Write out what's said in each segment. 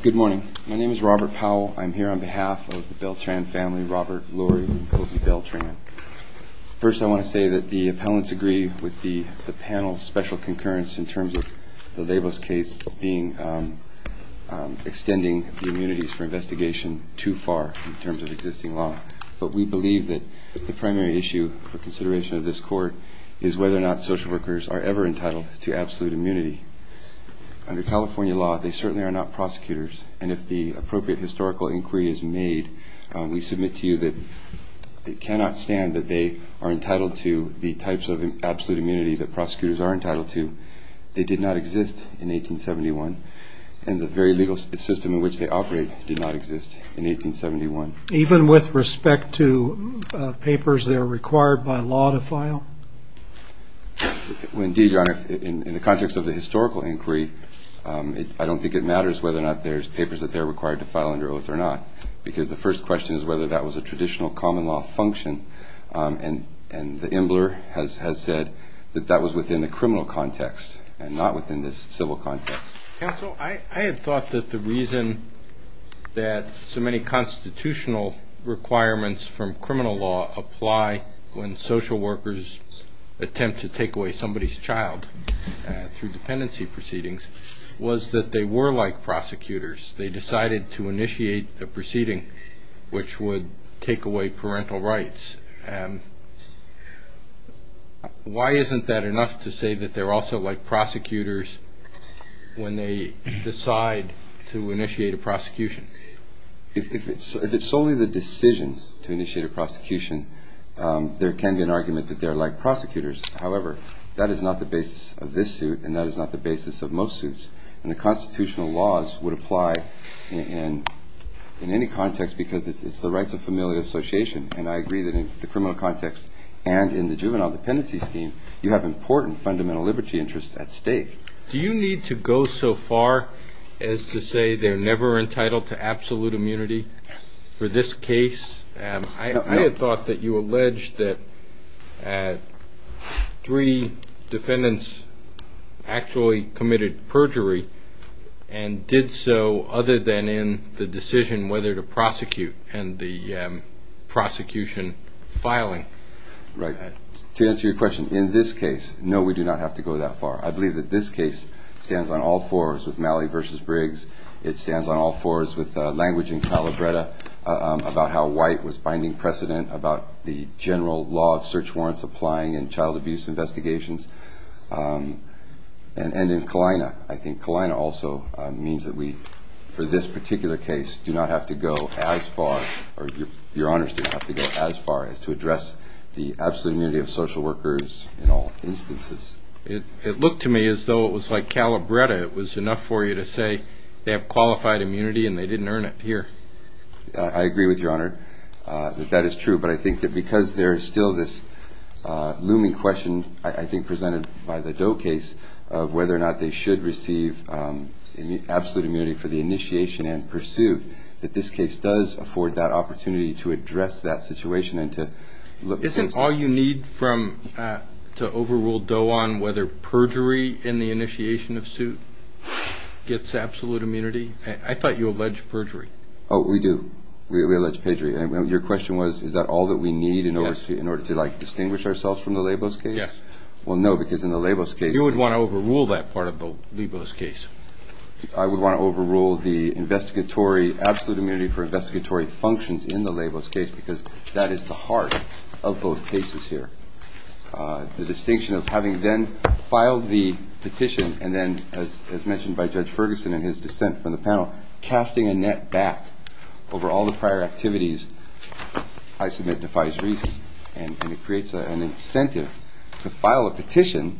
Good morning. My name is Robert Powell. I'm here on behalf of the Beltran family, Robert, Lori, and Kofi Beltran. First, I want to say that the appellants agree with the panel's special concurrence in terms of the Labos case extending the immunities for investigation too far in terms of existing law. But we believe that the primary issue for consideration of this court is whether or not social workers are ever entitled to absolute immunity. Under California law, they certainly are not prosecutors, and if the appropriate historical inquiry is made, we submit to you that it cannot stand that they are entitled to the types of absolute immunity that prosecutors are entitled to. They did not exist in 1871, and the very legal system in which they operate did not exist in 1871. Even with respect to papers that are required by law to file? Indeed, Your Honor, in the context of the historical inquiry, I don't think it matters whether or not there's papers that they're required to file under oath or not, because the first question is whether that was a traditional common law function, and the embler has said that that was within the criminal context and not within the civil context. Counsel, I had thought that the reason that so many constitutional requirements from criminal law apply when social workers attempt to take away somebody's child through dependency proceedings was that they were like prosecutors. They decided to initiate a proceeding which would take away parental rights. Why isn't that enough to say that they're also like prosecutors when they decide to initiate a prosecution? If it's solely the decisions to initiate a prosecution, there can be an argument that they're like prosecutors. However, that is not the basis of this suit, and that is not the basis of most suits. And the constitutional laws would apply in any context because it's the rights of familial association, and I agree that in the criminal context and in the juvenile dependency scheme, you have important fundamental liberty interests at stake. Do you need to go so far as to say they're never entitled to absolute immunity for this case? I had thought that you alleged that three defendants actually committed perjury and did so other than in the decision whether to prosecute and the prosecution filing. Right. To answer your question, in this case, no, we do not have to go that far. I believe that this case stands on all fours with Malley v. Briggs. It stands on all fours with language in Calabretta about how White was binding precedent about the general law of search warrants applying in child abuse investigations, and in Kalina. I think Kalina also means that we, for this particular case, do not have to go as far, or your honors do not have to go as far as to address the absolute immunity of social workers in all instances. It looked to me as though it was like Calabretta. It was enough for you to say they have qualified immunity and they didn't earn it here. I agree with your honor that that is true, but I think that because there is still this looming question I think presented by the Doe case of whether or not they should receive absolute immunity for the initiation and pursuit, that this case does afford that opportunity to address that situation and to look at things. Is there a need to overrule Doe on whether perjury in the initiation of suit gets absolute immunity? I thought you alleged perjury. Oh, we do. We allege perjury. Your question was is that all that we need in order to distinguish ourselves from the Labos case? Yes. Well, no, because in the Labos case— You would want to overrule that part of the Labos case. I would want to overrule the absolute immunity for investigatory functions in the Labos case because that is the heart of both cases here. The distinction of having then filed the petition and then, as mentioned by Judge Ferguson in his dissent from the panel, casting a net back over all the prior activities I submit defies reason, and it creates an incentive to file a petition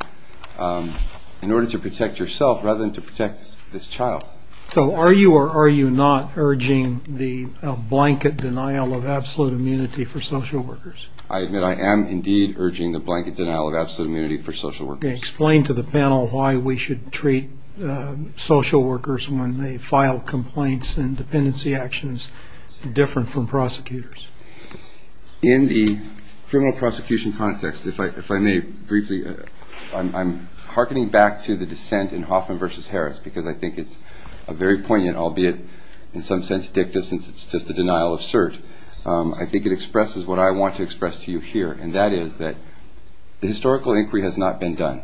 in order to protect yourself rather than to protect this child. So are you or are you not urging the blanket denial of absolute immunity for social workers? I admit I am indeed urging the blanket denial of absolute immunity for social workers. Explain to the panel why we should treat social workers when they file complaints and dependency actions different from prosecutors. In the criminal prosecution context, if I may briefly, I'm hearkening back to the dissent in Hoffman v. Harris because I think it's very poignant, albeit in some sense dicta since it's just a denial of cert. I think it expresses what I want to express to you here, and that is that the historical inquiry has not been done.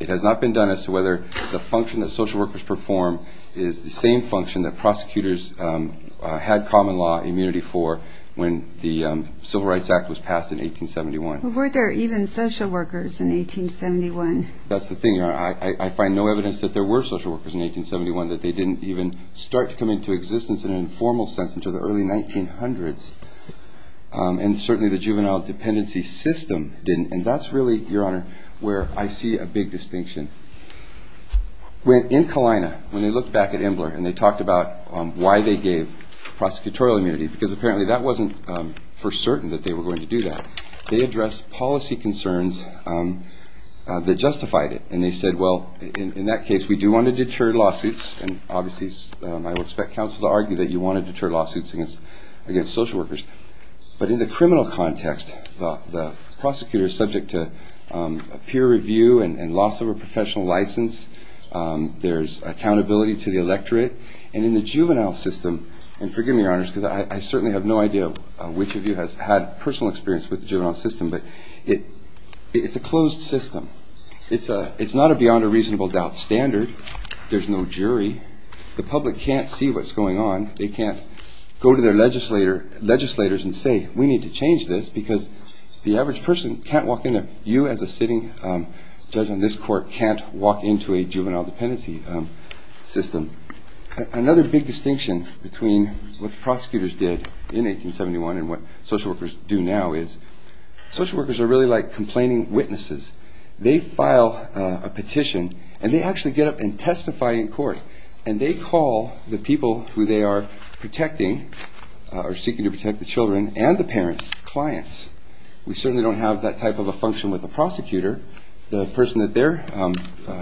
It has not been done as to whether the function that social workers perform is the same function that prosecutors had common law immunity for when the Civil Rights Act was passed in 1871. Were there even social workers in 1871? That's the thing, Your Honor. I find no evidence that there were social workers in 1871, that they didn't even start to come into existence in an informal sense until the early 1900s. And certainly the juvenile dependency system didn't. And that's really, Your Honor, where I see a big distinction. In Kalina, when they looked back at Embler and they talked about why they gave prosecutorial immunity, because apparently that wasn't for certain that they were going to do that, they addressed policy concerns that justified it. And they said, well, in that case, we do want to deter lawsuits, and obviously I would expect counsel to argue that you want to deter lawsuits against social workers. But in the criminal context, the prosecutor is subject to peer review and loss of a professional license. There's accountability to the electorate. And in the juvenile system, and forgive me, Your Honors, because I certainly have no idea which of you has had personal experience with the juvenile system, but it's a closed system. It's not a beyond-a-reasonable-doubt standard. There's no jury. The public can't see what's going on. They can't go to their legislators and say, we need to change this, because the average person can't walk in there. You, as a sitting judge on this court, can't walk into a juvenile dependency system. Another big distinction between what the prosecutors did in 1871 and what social workers do now is social workers are really like complaining witnesses. They file a petition, and they actually get up and testify in court, and they call the people who they are protecting or seeking to protect the children and the parents, clients. We certainly don't have that type of a function with the prosecutor. The person that they're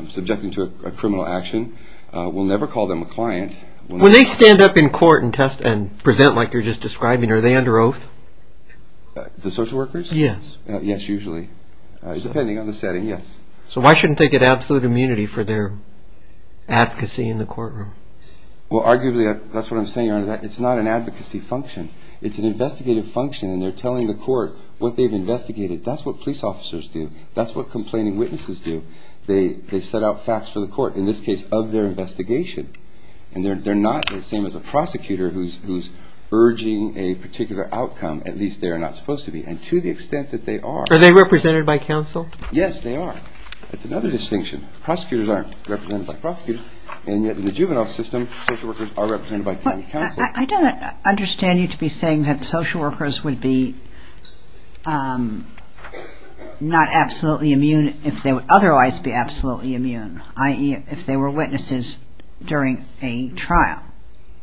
subjecting to a criminal action will never call them a client. When they stand up in court and present like you're just describing, are they under oath? The social workers? Yes. Yes, usually, depending on the setting, yes. So why shouldn't they get absolute immunity for their advocacy in the courtroom? Well, arguably, that's what I'm saying, Your Honor, that it's not an advocacy function. It's an investigative function, and they're telling the court what they've investigated. That's what police officers do. That's what complaining witnesses do. They set out facts for the court, in this case, of their investigation, and they're not the same as a prosecutor who's urging a particular outcome. At least they are not supposed to be, and to the extent that they are. Are they represented by counsel? Yes, they are. That's another distinction. Prosecutors aren't represented by prosecutors, and yet in the juvenile system, social workers are represented by counsel. I don't understand you to be saying that social workers would be not absolutely immune if they would otherwise be absolutely immune, i.e., if they were witnesses during a trial.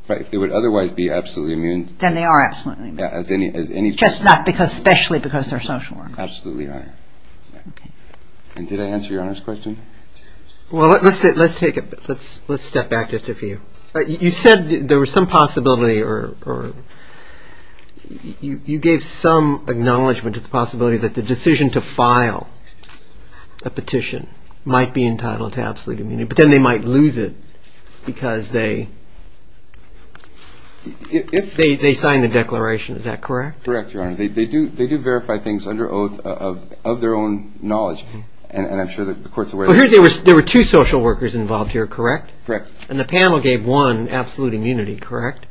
Right. If they would otherwise be absolutely immune. Then they are absolutely immune. Yeah, as any person. Just not because, especially because they're social workers. Absolutely, Your Honor. Okay. And did I answer Your Honor's question? Well, let's step back just a few. You said there was some possibility or you gave some acknowledgment to the possibility that the decision to file a petition might be entitled to absolute immunity, but then they might lose it because they signed the declaration. Is that correct? Correct, Your Honor. They do verify things under oath of their own knowledge, and I'm sure that the court's aware of that. Well, there were two social workers involved here, correct? Correct. And the panel gave one absolute immunity, correct?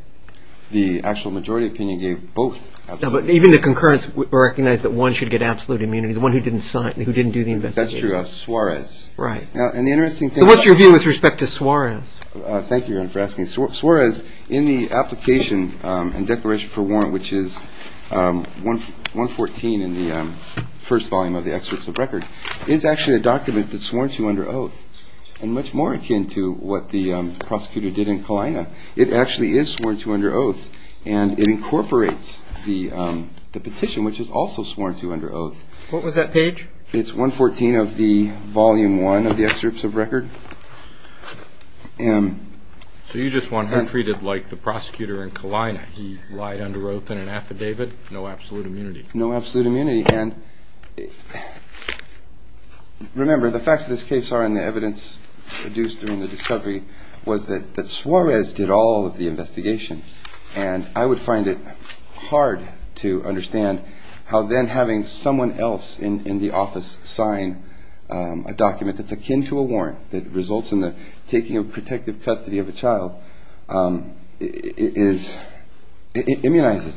The actual majority opinion gave both absolute immunity. But even the concurrence recognized that one should get absolute immunity, the one who didn't sign, who didn't do the investigation. That's true, Suarez. Right. So what's your view with respect to Suarez? Thank you, Your Honor, for asking. Suarez in the application and declaration for warrant, which is 114 in the first volume of the excerpts of record, is actually a document that's sworn to under oath and much more akin to what the prosecutor did in Kalina. It actually is sworn to under oath, and it incorporates the petition, which is also sworn to under oath. What was that page? It's 114 of the volume one of the excerpts of record. So you just want him treated like the prosecutor in Kalina. He lied under oath in an affidavit, no absolute immunity. No absolute immunity. And remember, the facts of this case are, and the evidence produced during the discovery, was that Suarez did all of the investigation. And I would find it hard to understand how then having someone else in the office sign a document that's akin to a warrant, that results in the taking of protective custody of a child, immunizes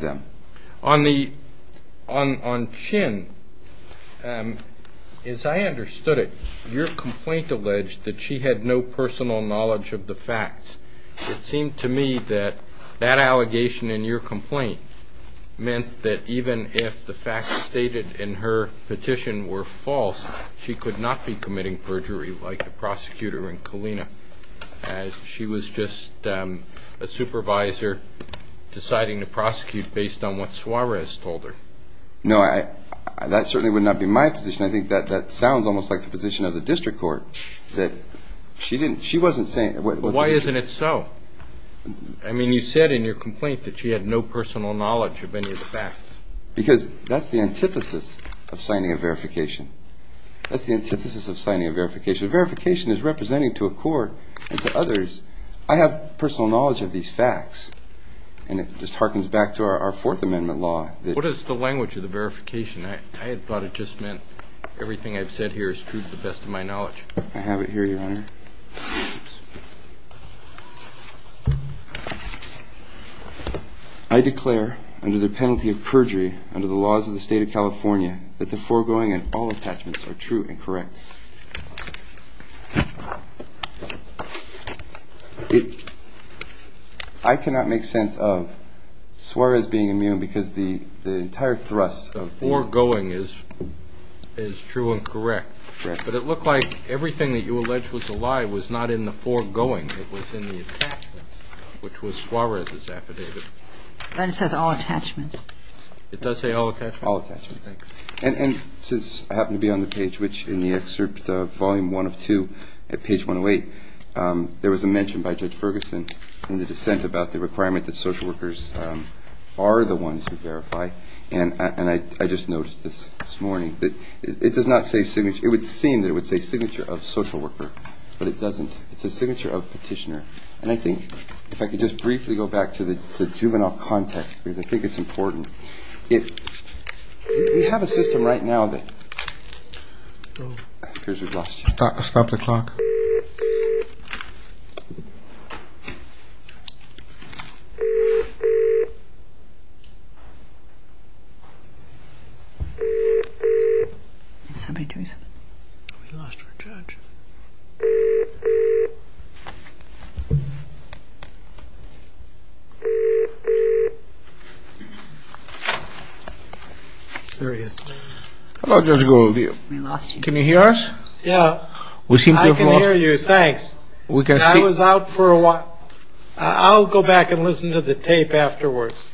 them. On Chin, as I understood it, your complaint alleged that she had no personal knowledge of the facts. It seemed to me that that allegation in your complaint meant that even if the facts stated in her petition were false, she could not be committing perjury like the prosecutor in Kalina. She was just a supervisor deciding to prosecute based on what Suarez told her. No, that certainly would not be my position. I think that sounds almost like the position of the district court. Why isn't it so? I mean, you said in your complaint that she had no personal knowledge of any of the facts. Because that's the antithesis of signing a verification. That's the antithesis of signing a verification. A verification is representing to a court and to others, I have personal knowledge of these facts. And it just harkens back to our fourth amendment law. What is the language of the verification? I had thought it just meant everything I've said here is true to the best of my knowledge. I have it here, Your Honor. I declare under the penalty of perjury under the laws of the state of I cannot make sense of Suarez being immune because the entire thrust of foregoing is true and correct. But it looked like everything that you alleged was a lie was not in the foregoing. It was in the attachments, which was Suarez's affidavit. And it says all attachments. It does say all attachments? All attachments. And since I happen to be on the page, which in the excerpt, Volume 1 of 2 at page 108, there was a mention by Judge Ferguson in the dissent about the requirement that social workers are the ones who verify. And I just noticed this morning that it does not say signature. It would seem that it would say signature of social worker, but it doesn't. It says signature of petitioner. And I think if I could just briefly go back to the juvenile context, because I think it's important. We have a system right now that goes across. Stop the clock. Somebody do something. We lost our judge. There he is. Hello, Judge Goldilocks. Can you hear us? Yeah. We seem to have lost him. I can hear you, thanks. And I was out for a while. I'll go back and listen to the tape afterwards.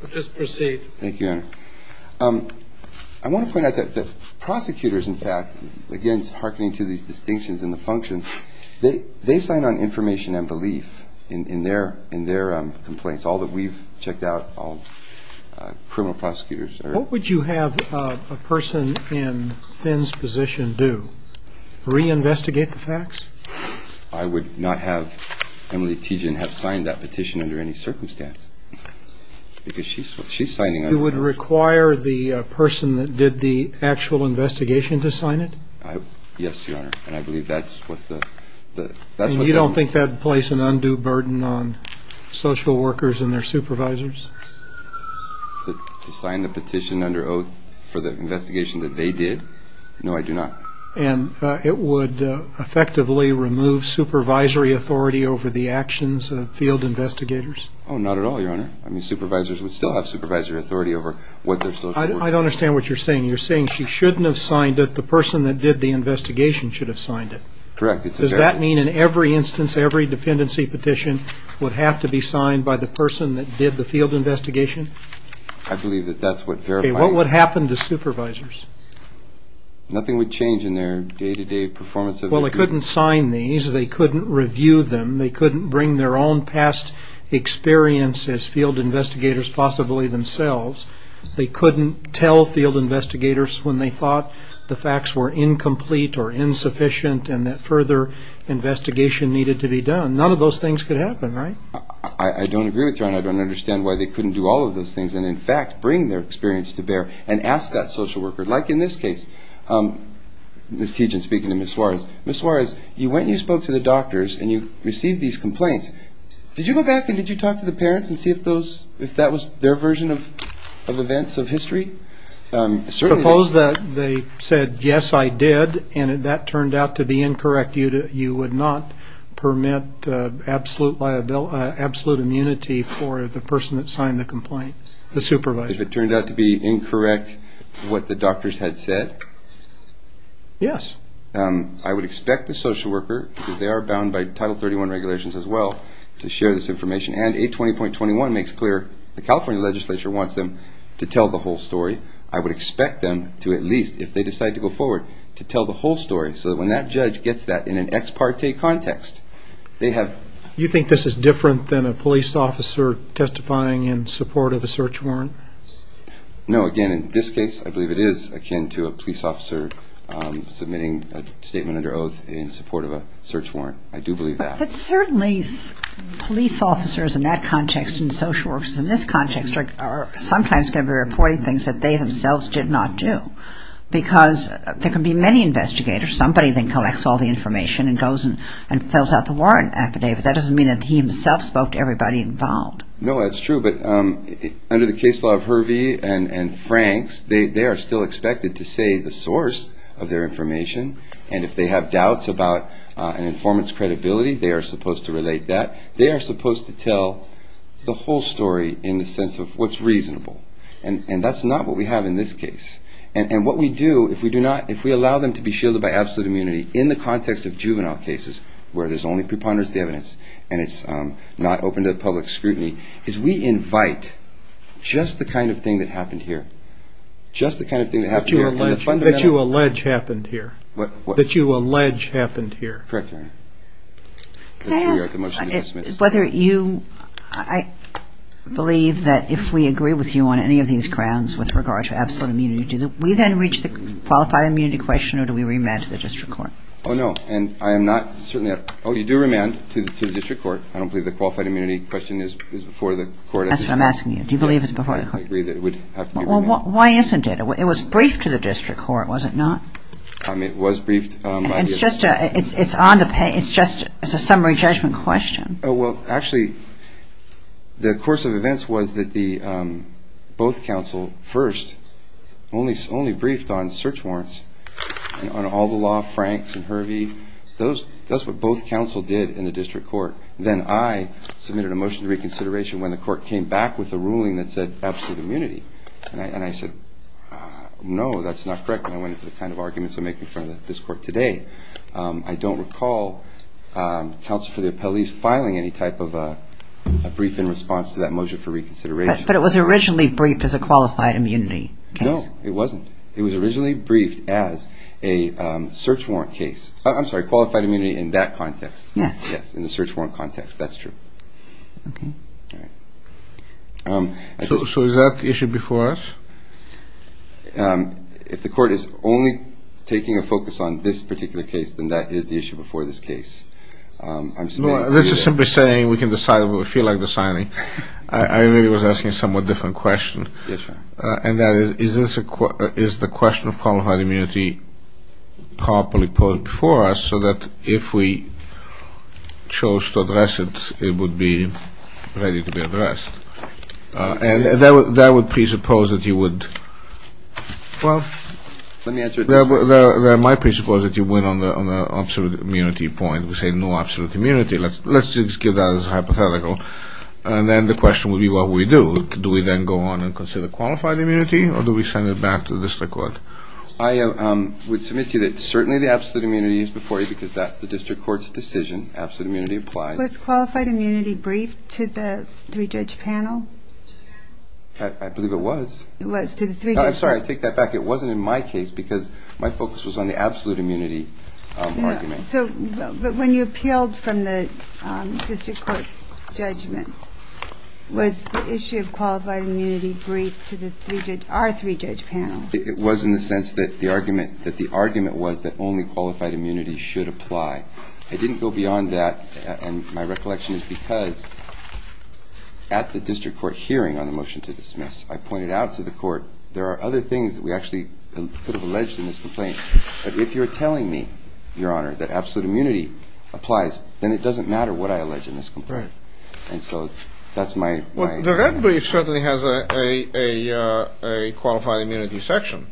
So just proceed. Thank you, Your Honor. dissenters, are not necessarily the ones who are going to be held accountable They sign on information and belief in their complaints. All that we've checked out, all criminal prosecutors. What would you have a person in Finn's position do? Reinvestigate the facts? I would not have Emily Teejan have signed that petition under any circumstance. Because she's signing it. You would require the person that did the actual investigation to sign it? Yes, Your Honor. And I believe that's what the You don't think that would place an undue burden on social workers and their supervisors? To sign the petition under oath for the investigation that they did? No, I do not. And it would effectively remove supervisory authority over the actions of field investigators? Oh, not at all, Your Honor. I mean, supervisors would still have supervisory authority over what their social workers I don't understand what you're saying. You're saying she shouldn't have signed it. The person that did the investigation should have signed it? Correct. Does that mean in every instance, every dependency petition, would have to be signed by the person that did the field investigation? I believe that that's what verified Okay, what would happen to supervisors? Nothing would change in their day-to-day performance of their duties. Well, they couldn't sign these. They couldn't review them. They couldn't bring their own past experience as field investigators, possibly themselves. They couldn't tell field investigators when they thought the facts were incomplete or insufficient and that further investigation needed to be done. None of those things could happen, right? I don't agree with you, Your Honor. I don't understand why they couldn't do all of those things and, in fact, bring their experience to bear and ask that social worker. Like in this case, Ms. Tiegen speaking to Ms. Suarez. Ms. Suarez, you went and you spoke to the doctors and you received these complaints. Did you go back and did you talk to the parents and see if that was their version of events of history? They said, yes, I did, and that turned out to be incorrect. You would not permit absolute immunity for the person that signed the complaint, the supervisor. If it turned out to be incorrect what the doctors had said? Yes. I would expect the social worker, because they are bound by Title 31 regulations as well, to share this information, and 820.21 makes clear the California legislature wants them to tell the whole story. I would expect them to at least, if they decide to go forward, to tell the whole story so that when that judge gets that in an ex parte context they have. Do you think this is different than a police officer testifying in support of a search warrant? No, again, in this case I believe it is akin to a police officer submitting a statement under oath in support of a search warrant. I do believe that. But certainly police officers in that context and social workers in this context are sometimes going to be reporting things that they themselves did not do, because there can be many investigators. Somebody then collects all the information and goes and fills out the warrant affidavit. That doesn't mean that he himself spoke to everybody involved. No, that's true, but under the case law of Hervey and Franks, they are still expected to say the source of their information, and if they have doubts about an informant's credibility, they are supposed to relate that. They are supposed to tell the whole story in the sense of what's reasonable, and that's not what we have in this case. And what we do, if we allow them to be shielded by absolute immunity in the context of juvenile cases where there's only preponderance of the evidence and it's not open to public scrutiny, is we invite just the kind of thing that happened here, just the kind of thing that happened here. That you allege happened here. What? That you allege happened here. Correct, Your Honor. Can I ask whether you, I believe that if we agree with you on any of these grounds with regard to absolute immunity, do we then reach the qualified immunity question or do we remand to the district court? Oh, no. And I am not certain that, oh, you do remand to the district court. I don't believe the qualified immunity question is before the court. That's what I'm asking you. Do you believe it's before the court? I agree that it would have to be remanded. Well, why isn't it? It was briefed to the district court, was it not? It was briefed. It's just a summary judgment question. Well, actually, the course of events was that both counsel first only briefed on search warrants and on all the law, Franks and Hervey. That's what both counsel did in the district court. Then I submitted a motion to reconsideration when the court came back with a ruling that said absolute immunity. And I said, no, that's not correct. And I went into the kind of arguments I'm making in front of this court today. I don't recall counsel for the appellees filing any type of a brief in response to that motion for reconsideration. But it was originally briefed as a qualified immunity case. No, it wasn't. It was originally briefed as a search warrant case. I'm sorry, qualified immunity in that context. Yes. Yes, in the search warrant context. That's true. Okay. All right. So is that the issue before us? If the court is only taking a focus on this particular case, then that is the issue before this case. No, this is simply saying we can decide what we feel like deciding. I really was asking a somewhat different question. Yes, sir. And that is, is the question of qualified immunity properly posed before us so that if we chose to address it, it would be ready to be addressed? And that would presuppose that you would, well, that might presuppose that you win on the absolute immunity point. We say no absolute immunity. Let's just give that as a hypothetical. And then the question would be what we do. Do we then go on and consider qualified immunity or do we send it back to the district court? I would submit to you that certainly the absolute immunity is before you because that's the district court's decision. Absolute immunity applies. Was qualified immunity briefed to the three-judge panel? I believe it was. It was to the three-judge panel. I'm sorry, I take that back. It wasn't in my case because my focus was on the absolute immunity argument. So when you appealed from the district court's judgment, was the issue of qualified immunity briefed to our three-judge panel? It was in the sense that the argument was that only qualified immunity should apply. I didn't go beyond that, and my recollection is because at the district court hearing on the motion to dismiss, I pointed out to the court there are other things that we actually could have alleged in this complaint. But if you're telling me, Your Honor, that absolute immunity applies, then it doesn't matter what I allege in this complaint. Right. And so that's my- Well, the red brief certainly has a qualified immunity section.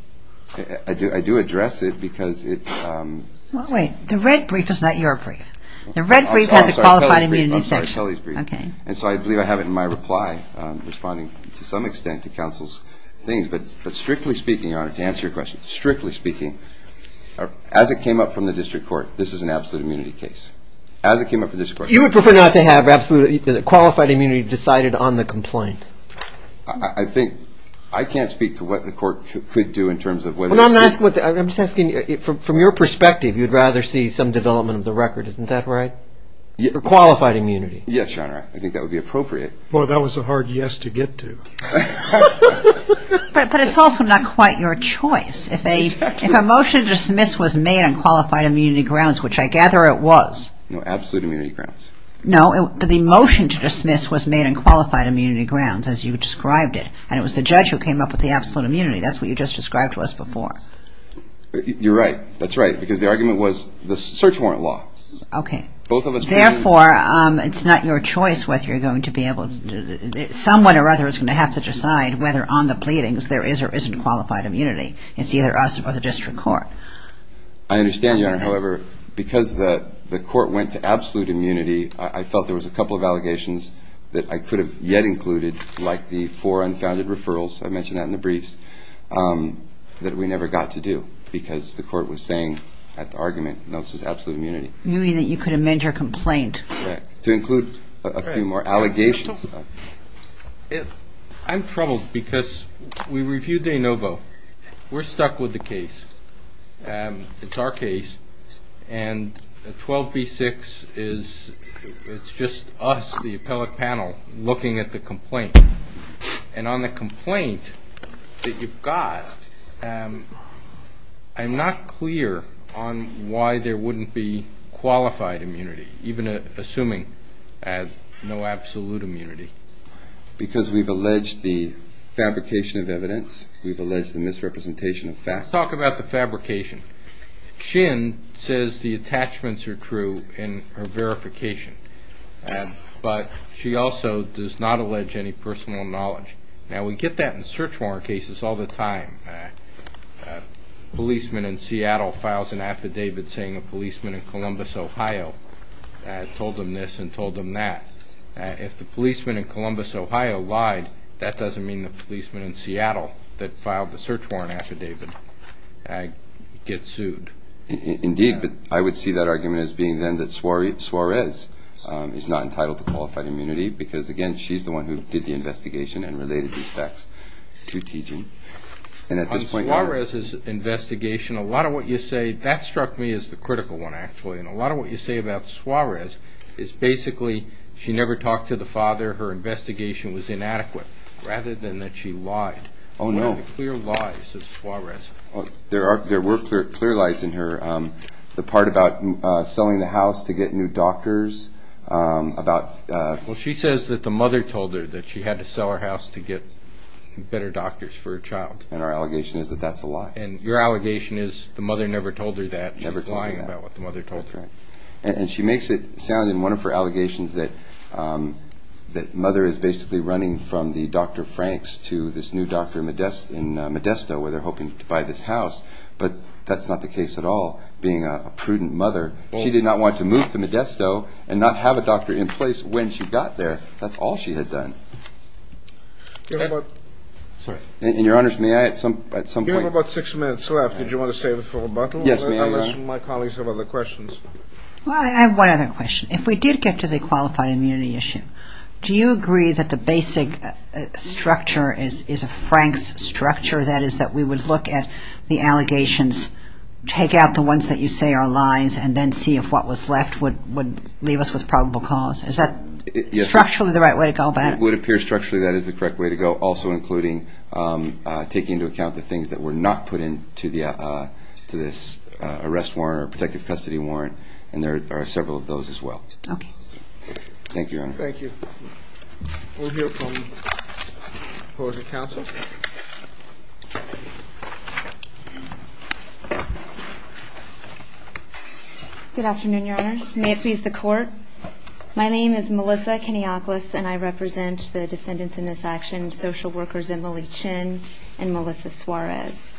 I do address it because it- Well, wait. The red brief is not your brief. The red brief has a qualified immunity section. I'm sorry. I believe I have it in my reply responding to some extent to counsel's things. But strictly speaking, Your Honor, to answer your question, strictly speaking, as it came up from the district court, this is an absolute immunity case. As it came up from the district court- You would prefer not to have absolute- qualified immunity decided on the complaint. I think- I can't speak to what the court could do in terms of whether- Well, I'm asking- I'm just asking from your perspective, you'd rather see some development of the record. Isn't that right? For qualified immunity. Yes, Your Honor. I think that would be appropriate. Boy, that was a hard yes to get to. But it's also not quite your choice. If a motion to dismiss was made on qualified immunity grounds, which I gather it was- No absolute immunity grounds. No. The motion to dismiss was made on qualified immunity grounds, as you described it. And it was the judge who came up with the absolute immunity. That's what you just described to us before. You're right. That's right. Because the argument was the search warrant law. Okay. Both of us- Therefore, it's not your choice whether you're going to be able to- Someone or other is going to have to decide whether on the pleadings there is or isn't qualified immunity. It's either us or the district court. I understand, Your Honor. However, because the court went to absolute immunity, I felt there was a couple of allegations that I could have yet included, like the four unfounded referrals- I mentioned that in the briefs- that we never got to do. Because the court was saying at the argument, no, this is absolute immunity. Immunity that you could amend your complaint. Right. To include a few more allegations. I'm troubled because we reviewed de novo. We're stuck with the case. It's our case. And 12b-6 is just us, the appellate panel, looking at the complaint. And on the complaint that you've got, I'm not clear on why there wouldn't be qualified immunity, even assuming no absolute immunity. Because we've alleged the fabrication of evidence. We've alleged the misrepresentation of facts. Let's talk about the fabrication. Shin says the attachments are true in her verification, but she also does not allege any personal knowledge. Now, we get that in search warrant cases all the time. A policeman in Seattle files an affidavit saying a policeman in Columbus, Ohio, told him this and told him that. If the policeman in Columbus, Ohio, lied, that doesn't mean the policeman in Seattle that filed the search warrant affidavit. I get sued. Indeed, but I would see that argument as being then that Suarez is not entitled to qualified immunity because, again, she's the one who did the investigation and related these facts to T.G. On Suarez's investigation, a lot of what you say, that struck me as the critical one, actually. And a lot of what you say about Suarez is basically she never talked to the father, her investigation was inadequate, rather than that she lied. One of the clear lies of Suarez. There were clear lies in her. The part about selling the house to get new doctors. Well, she says that the mother told her that she had to sell her house to get better doctors for her child. And our allegation is that that's a lie. And your allegation is the mother never told her that. She's lying about what the mother told her. That's right. And she makes it sound in one of her allegations that the mother is basically running from the Dr. Franks to this new doctor in Modesto where they're hoping to buy this house. But that's not the case at all, being a prudent mother. She did not want to move to Modesto and not have a doctor in place when she got there. That's all she had done. And, Your Honors, may I at some point? You have about six minutes left. Yes, may I? My colleagues have other questions. Well, I have one other question. If we did get to the qualified immunity issue, do you agree that the basic structure is a Franks structure, that is that we would look at the allegations, take out the ones that you say are lies, and then see if what was left would leave us with probable cause? Is that structurally the right way to go about it? It would appear structurally that is the correct way to go, also including taking into account the things that were not put into this arrest warrant or protective custody warrant, and there are several of those as well. Thank you, Your Honor. Thank you. We'll hear from the opposing counsel. Good afternoon, Your Honors. May it please the Court. My name is Melissa Kenioklis, and I represent the defendants in this action, social workers Emily Chin and Melissa Suarez.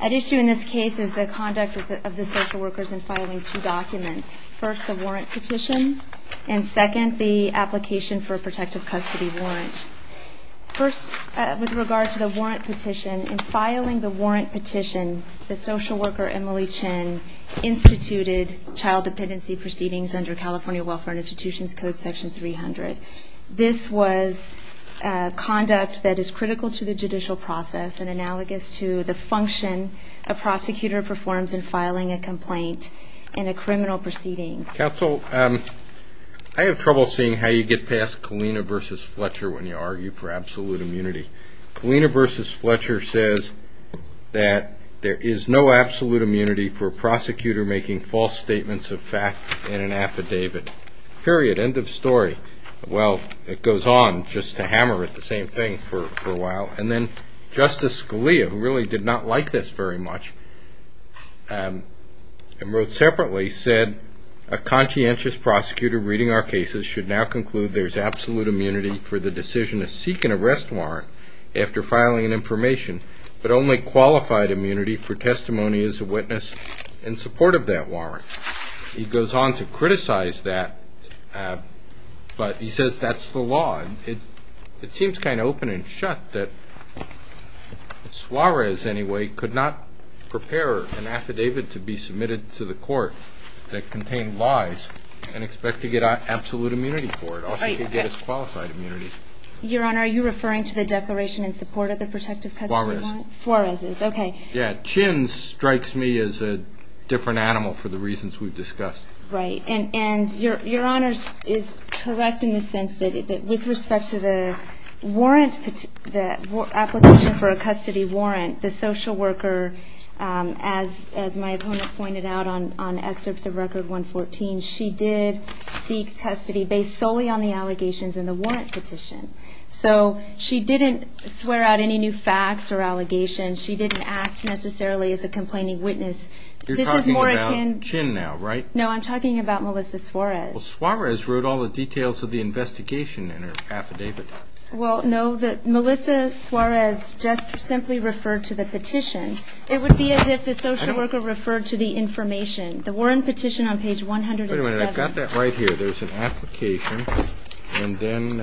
At issue in this case is the conduct of the social workers in filing two documents. First, the warrant petition, and second, the application for a protective custody warrant. First, with regard to the warrant petition, in filing the warrant petition, the social worker Emily Chin instituted child dependency proceedings under California Welfare Institution's Code Section 300. This was conduct that is critical to the judicial process and analogous to the function a prosecutor performs in filing a complaint in a criminal proceeding. Counsel, I have trouble seeing how you get past Kalina v. Fletcher when you argue for absolute immunity. Kalina v. Fletcher says that there is no absolute immunity for a prosecutor making false statements of fact in an affidavit. Period. End of story. Well, it goes on just to hammer at the same thing for a while. And then Justice Scalia, who really did not like this very much and wrote separately, said a conscientious prosecutor reading our cases should now conclude that there is absolute immunity for the decision to seek an arrest warrant after filing an information, but only qualified immunity for testimony as a witness in support of that warrant. He goes on to criticize that, but he says that's the law. It seems kind of open and shut that Suarez, anyway, could not prepare an affidavit to be submitted to the court that contained lies and expect to get absolute immunity for it, also could get his qualified immunity. Your Honor, are you referring to the declaration in support of the protective custody warrant? Suarez. Suarez is. Okay. Yeah. Chin strikes me as a different animal for the reasons we've discussed. Right. And Your Honor is correct in the sense that with respect to the warrant, the application for a custody warrant, the social worker, as my opponent pointed out on excerpts of Record 114, she did seek custody based solely on the allegations in the warrant petition. So she didn't swear out any new facts or allegations. She didn't act necessarily as a complaining witness. You're talking about Chin now, right? No, I'm talking about Melissa Suarez. Well, Suarez wrote all the details of the investigation in her affidavit. Well, no, Melissa Suarez just simply referred to the petition. It would be as if the social worker referred to the information. The warrant petition on page 107. Wait a minute, I've got that right here. There's an application, and then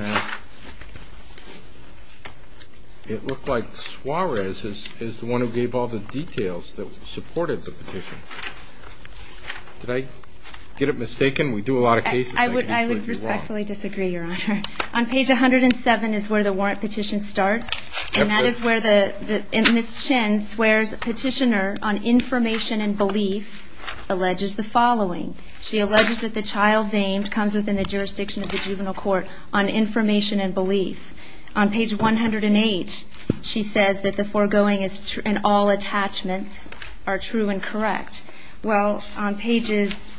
it looked like Suarez is the one who gave all the details that supported the petition. Did I get it mistaken? We do a lot of cases like this. I would respectfully disagree, Your Honor. On page 107 is where the warrant petition starts, and that is where Ms. Chin swears petitioner on information and belief alleges the following. She alleges that the child named comes within the jurisdiction of the juvenile court on information and belief. On page 108, she says that the foregoing and all attachments are true and correct. Well, on pages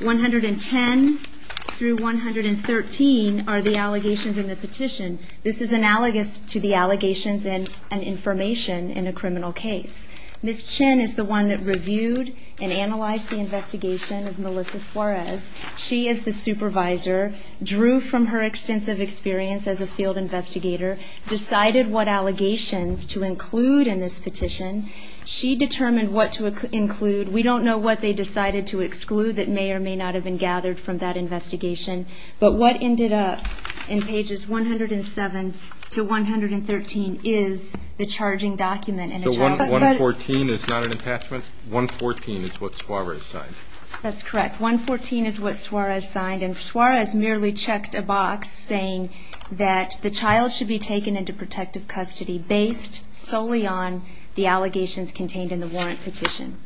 110 through 113 are the allegations in the petition. This is analogous to the allegations and information in a criminal case. Ms. Chin is the one that reviewed and analyzed the investigation of Melissa Suarez. She is the supervisor, drew from her extensive experience as a field investigator, decided what allegations to include in this petition. She determined what to include. We don't know what they decided to exclude that may or may not have been gathered from that investigation. But what ended up in pages 107 to 113 is the charging document. So 114 is not an attachment? 114 is what Suarez signed. That's correct. 114 is what Suarez signed, and Suarez merely checked a box saying that the child should be taken into protective custody based solely on the allegations contained in the warrant petition.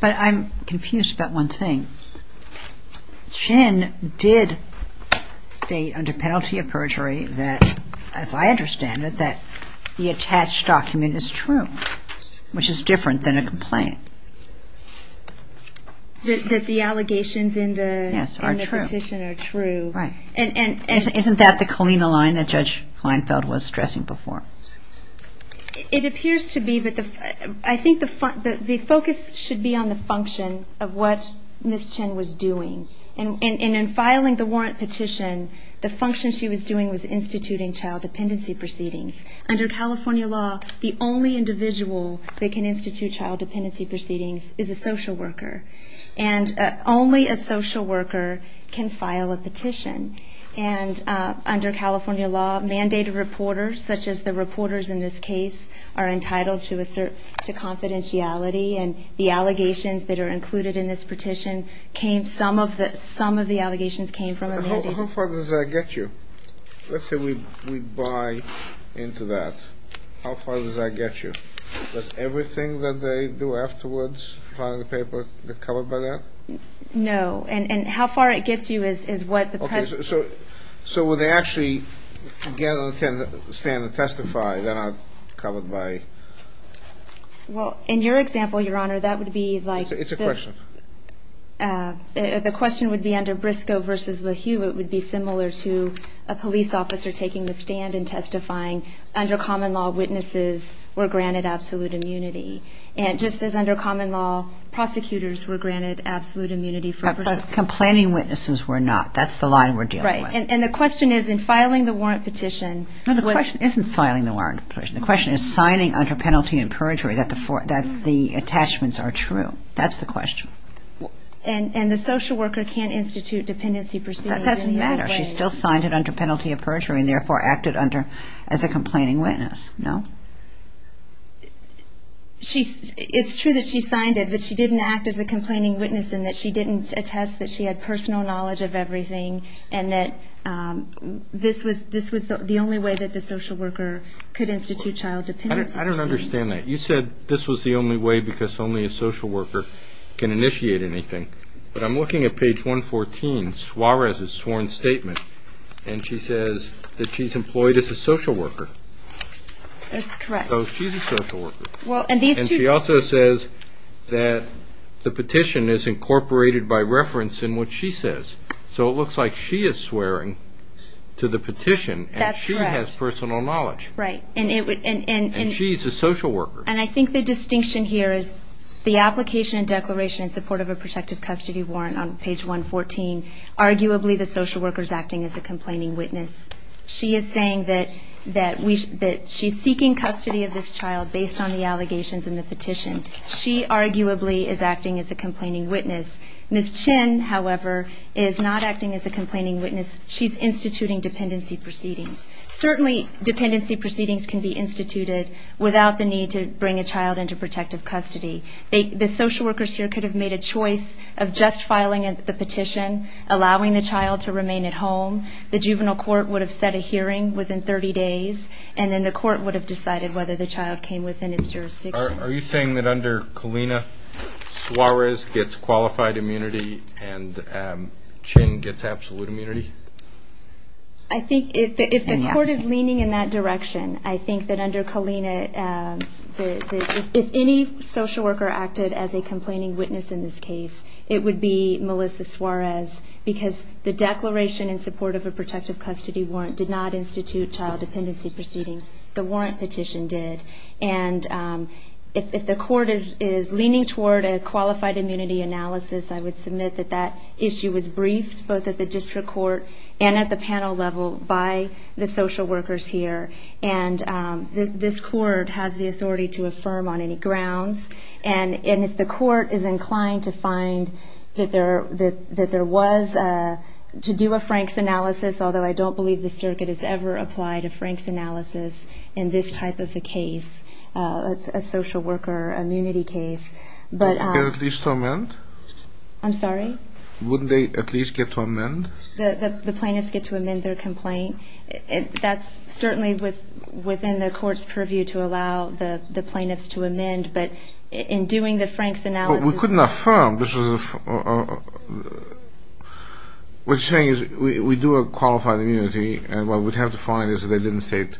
But I'm confused about one thing. Ms. Chin did state under penalty of perjury that, as I understand it, that the attached document is true, which is different than a complaint. That the allegations in the petition are true. Yes, are true. Right. Isn't that the Kalina line that Judge Kleinfeld was stressing before? It appears to be. I think the focus should be on the function of what Ms. Chin was doing. And in filing the warrant petition, the function she was doing was instituting child dependency proceedings. Under California law, the only individual that can institute child dependency proceedings is a social worker. And under California law, mandated reporters, such as the reporters in this case, are entitled to assert to confidentiality. And the allegations that are included in this petition, some of the allegations came from a mandated reporter. How far does that get you? Let's say we buy into that. How far does that get you? Does everything that they do afterwards on the paper get covered by that? No. And how far it gets you is what the president. So will they actually get on the stand and testify? They're not covered by. Well, in your example, Your Honor, that would be like. It's a question. The question would be under Briscoe v. LaHue. It would be similar to a police officer taking the stand and testifying. Under common law, witnesses were granted absolute immunity. And just as under common law, prosecutors were granted absolute immunity. Complaining witnesses were not. That's the line we're dealing with. Right. And the question is in filing the warrant petition. No, the question isn't filing the warrant petition. The question is signing under penalty of perjury that the attachments are true. That's the question. And the social worker can't institute dependency proceedings. That doesn't matter. She still signed it under penalty of perjury and, therefore, acted as a complaining witness. No? It's true that she signed it, but she didn't act as a complaining witness in that she didn't attest that she had personal knowledge of everything and that this was the only way that the social worker could institute child dependency. I don't understand that. You said this was the only way because only a social worker can initiate anything. But I'm looking at page 114, Suarez's sworn statement, and she says that she's employed as a social worker. That's correct. So she's a social worker. And she also says that the petition is incorporated by reference in what she says. So it looks like she is swearing to the petition and she has personal knowledge. Right. And she's a social worker. And I think the distinction here is the application and declaration in support of a protective custody warrant on page 114, arguably the social worker is acting as a complaining witness. She is saying that she's seeking custody of this child based on the allegations in the petition. She arguably is acting as a complaining witness. Ms. Chin, however, is not acting as a complaining witness. She's instituting dependency proceedings. Certainly dependency proceedings can be instituted without the need to bring a child into protective custody. The social workers here could have made a choice of just filing the petition, allowing the child to remain at home. The juvenile court would have set a hearing within 30 days, and then the court would have decided whether the child came within its jurisdiction. Are you saying that under Kalina, Suarez gets qualified immunity and Chin gets absolute immunity? I think if the court is leaning in that direction, I think that under Kalina, if any social worker acted as a complaining witness in this case, it would be Melissa Suarez because the declaration in support of a protective custody warrant did not institute child dependency proceedings. The warrant petition did. And if the court is leaning toward a qualified immunity analysis, I would submit that that issue was briefed both at the district court and at the panel level by the social workers here. And this court has the authority to affirm on any grounds. And if the court is inclined to find that there was to do a Franks analysis, although I don't believe the circuit has ever applied a Franks analysis in this type of a case, a social worker immunity case. Would they at least get to amend? I'm sorry? Wouldn't they at least get to amend? The plaintiffs get to amend their complaint. That's certainly within the court's purview to allow the plaintiffs to amend, but in doing the Franks analysis. But we couldn't affirm. What you're saying is we do a qualified immunity, and what we'd have to find is they didn't state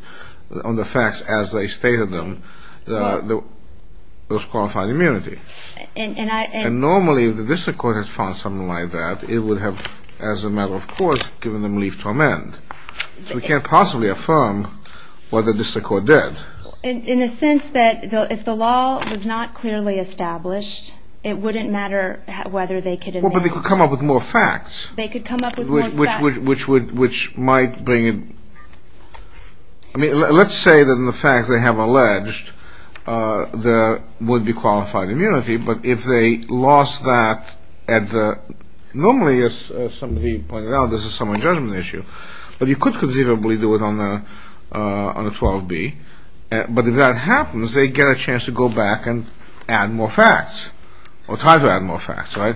on the facts as they stated them, those qualified immunity. And normally if the district court has found something like that, it would have, as a matter of course, given them leave to amend. So we can't possibly affirm what the district court did. In the sense that if the law was not clearly established, it wouldn't matter whether they could amend. Well, but they could come up with more facts. They could come up with more facts. Which might bring it. I mean, let's say that in the facts they have alleged there would be qualified immunity, but if they lost that at the ñ normally, as somebody pointed out, this is a summary judgment issue. But you could conceivably do it on a 12B. But if that happens, they get a chance to go back and add more facts or try to add more facts, right?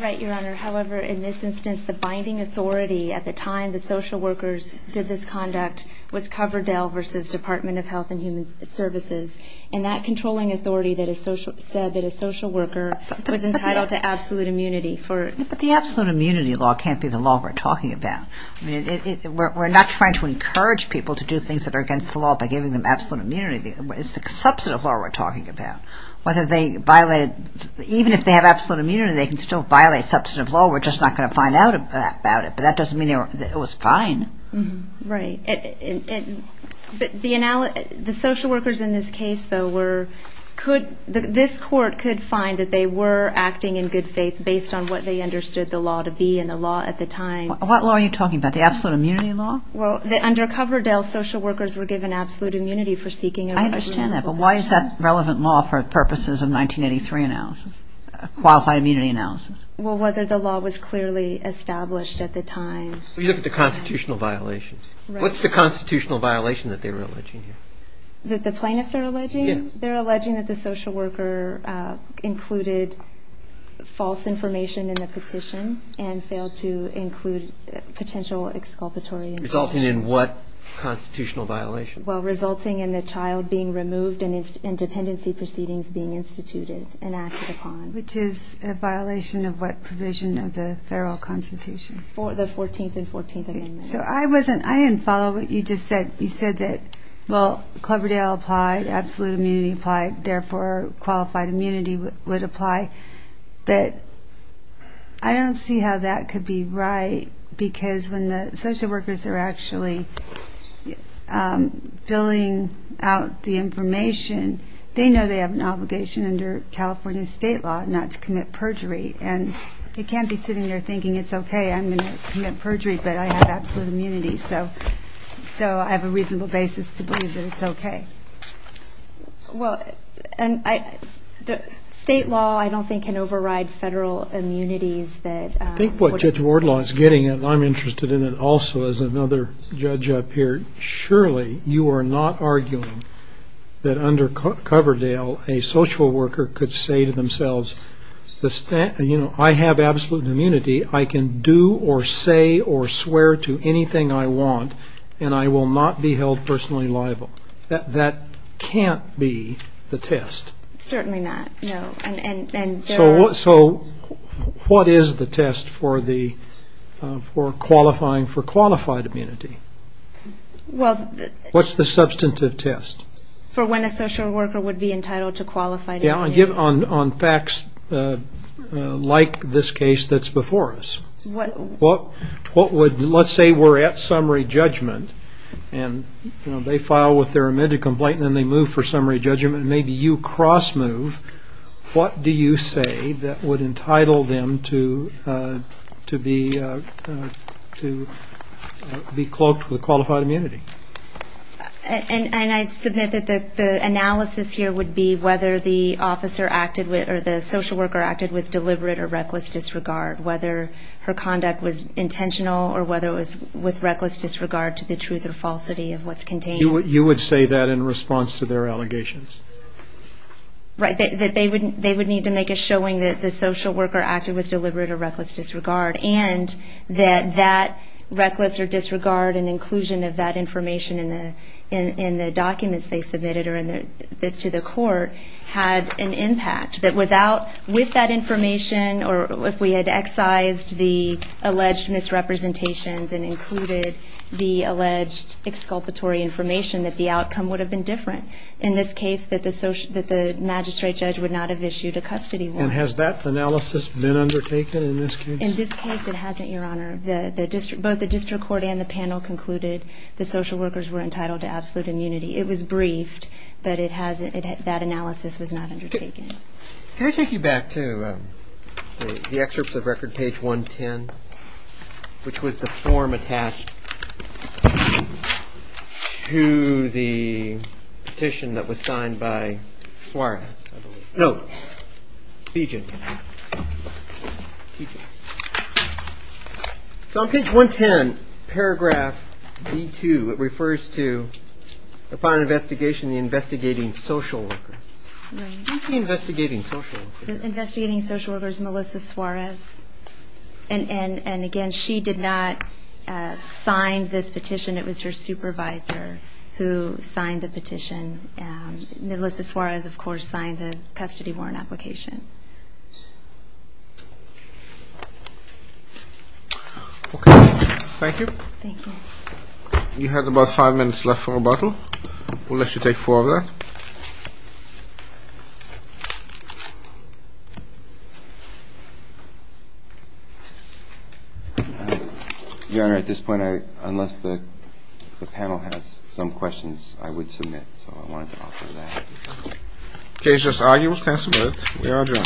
Right, Your Honor. However, in this instance, the binding authority at the time, when the social workers did this conduct, was Coverdell versus Department of Health and Human Services. And that controlling authority said that a social worker was entitled to absolute immunity. But the absolute immunity law can't be the law we're talking about. I mean, we're not trying to encourage people to do things that are against the law by giving them absolute immunity. It's the substantive law we're talking about. Whether they violated ñ even if they have absolute immunity, they can still violate substantive law. We're just not going to find out about it. But that doesn't mean it was fine. Right. The social workers in this case, though, were ñ this court could find that they were acting in good faith based on what they understood the law to be and the law at the time. What law are you talking about? The absolute immunity law? Well, under Coverdell, social workers were given absolute immunity for seeking a relationship. I understand that. But why is that relevant law for purposes of 1983 analysis, qualified immunity analysis? Well, whether the law was clearly established at the time. So you look at the constitutional violations. Right. What's the constitutional violation that they were alleging here? That the plaintiffs are alleging? Yes. They're alleging that the social worker included false information in the petition and failed to include potential exculpatory information. Resulting in what constitutional violation? Well, resulting in the child being removed and dependency proceedings being instituted and acted upon. Which is a violation of what provision of the federal constitution? The 14th and 14th amendments. So I wasn't ñ I didn't follow what you just said. You said that, well, Coverdell applied, absolute immunity applied, therefore qualified immunity would apply. But I don't see how that could be right because when the social workers are actually filling out the information, they know they have an obligation under California state law not to commit perjury. And they can't be sitting there thinking, it's okay, I'm going to commit perjury, but I have absolute immunity. So I have a reasonable basis to believe that it's okay. Well, state law I don't think can override federal immunities. I think what Judge Wardlaw is getting, and I'm interested in it also as another judge up here, surely you are not arguing that under Coverdell a social worker could say to themselves, you know, I have absolute immunity, I can do or say or swear to anything I want, and I will not be held personally liable. That can't be the test. Certainly not, no. So what is the test for qualifying for qualified immunity? What's the substantive test? For when a social worker would be entitled to qualified immunity. Yeah, on facts like this case that's before us. Let's say we're at summary judgment and they file with their admitted complaint and then they move for summary judgment and maybe you cross move. What do you say that would entitle them to be cloaked with qualified immunity? And I submit that the analysis here would be whether the officer acted with or the social worker acted with deliberate or reckless disregard, whether her conduct was intentional or whether it was with reckless disregard to the truth or falsity of what's contained. You would say that in response to their allegations? Right, that they would need to make a showing that the social worker acted with deliberate or reckless disregard and that that reckless or disregard and inclusion of that information in the documents they submitted to the court had an impact. That without, with that information, or if we had excised the alleged misrepresentations and included the alleged exculpatory information, that the outcome would have been different. In this case, that the magistrate judge would not have issued a custody warrant. And has that analysis been undertaken in this case? In this case, it hasn't, Your Honor. Both the district court and the panel concluded the social workers were entitled to absolute immunity. It was briefed, but that analysis was not undertaken. Can I take you back to the excerpts of record, page 110, which was the form attached to the petition that was signed by Suarez, I believe. No, Bejan. So on page 110, paragraph B2, it refers to the final investigation, the investigating social worker. Investigating social worker. Investigating social worker is Melissa Suarez. And again, she did not sign this petition. It was her supervisor who signed the petition. Melissa Suarez, of course, signed the custody warrant application. Okay. Thank you. Thank you. You have about five minutes left for rebuttal. We'll let you take four of that. Your Honor, at this point, unless the panel has some questions, I would submit. So I wanted to offer that. Case just argued. We can submit. We are adjourned. Thank you.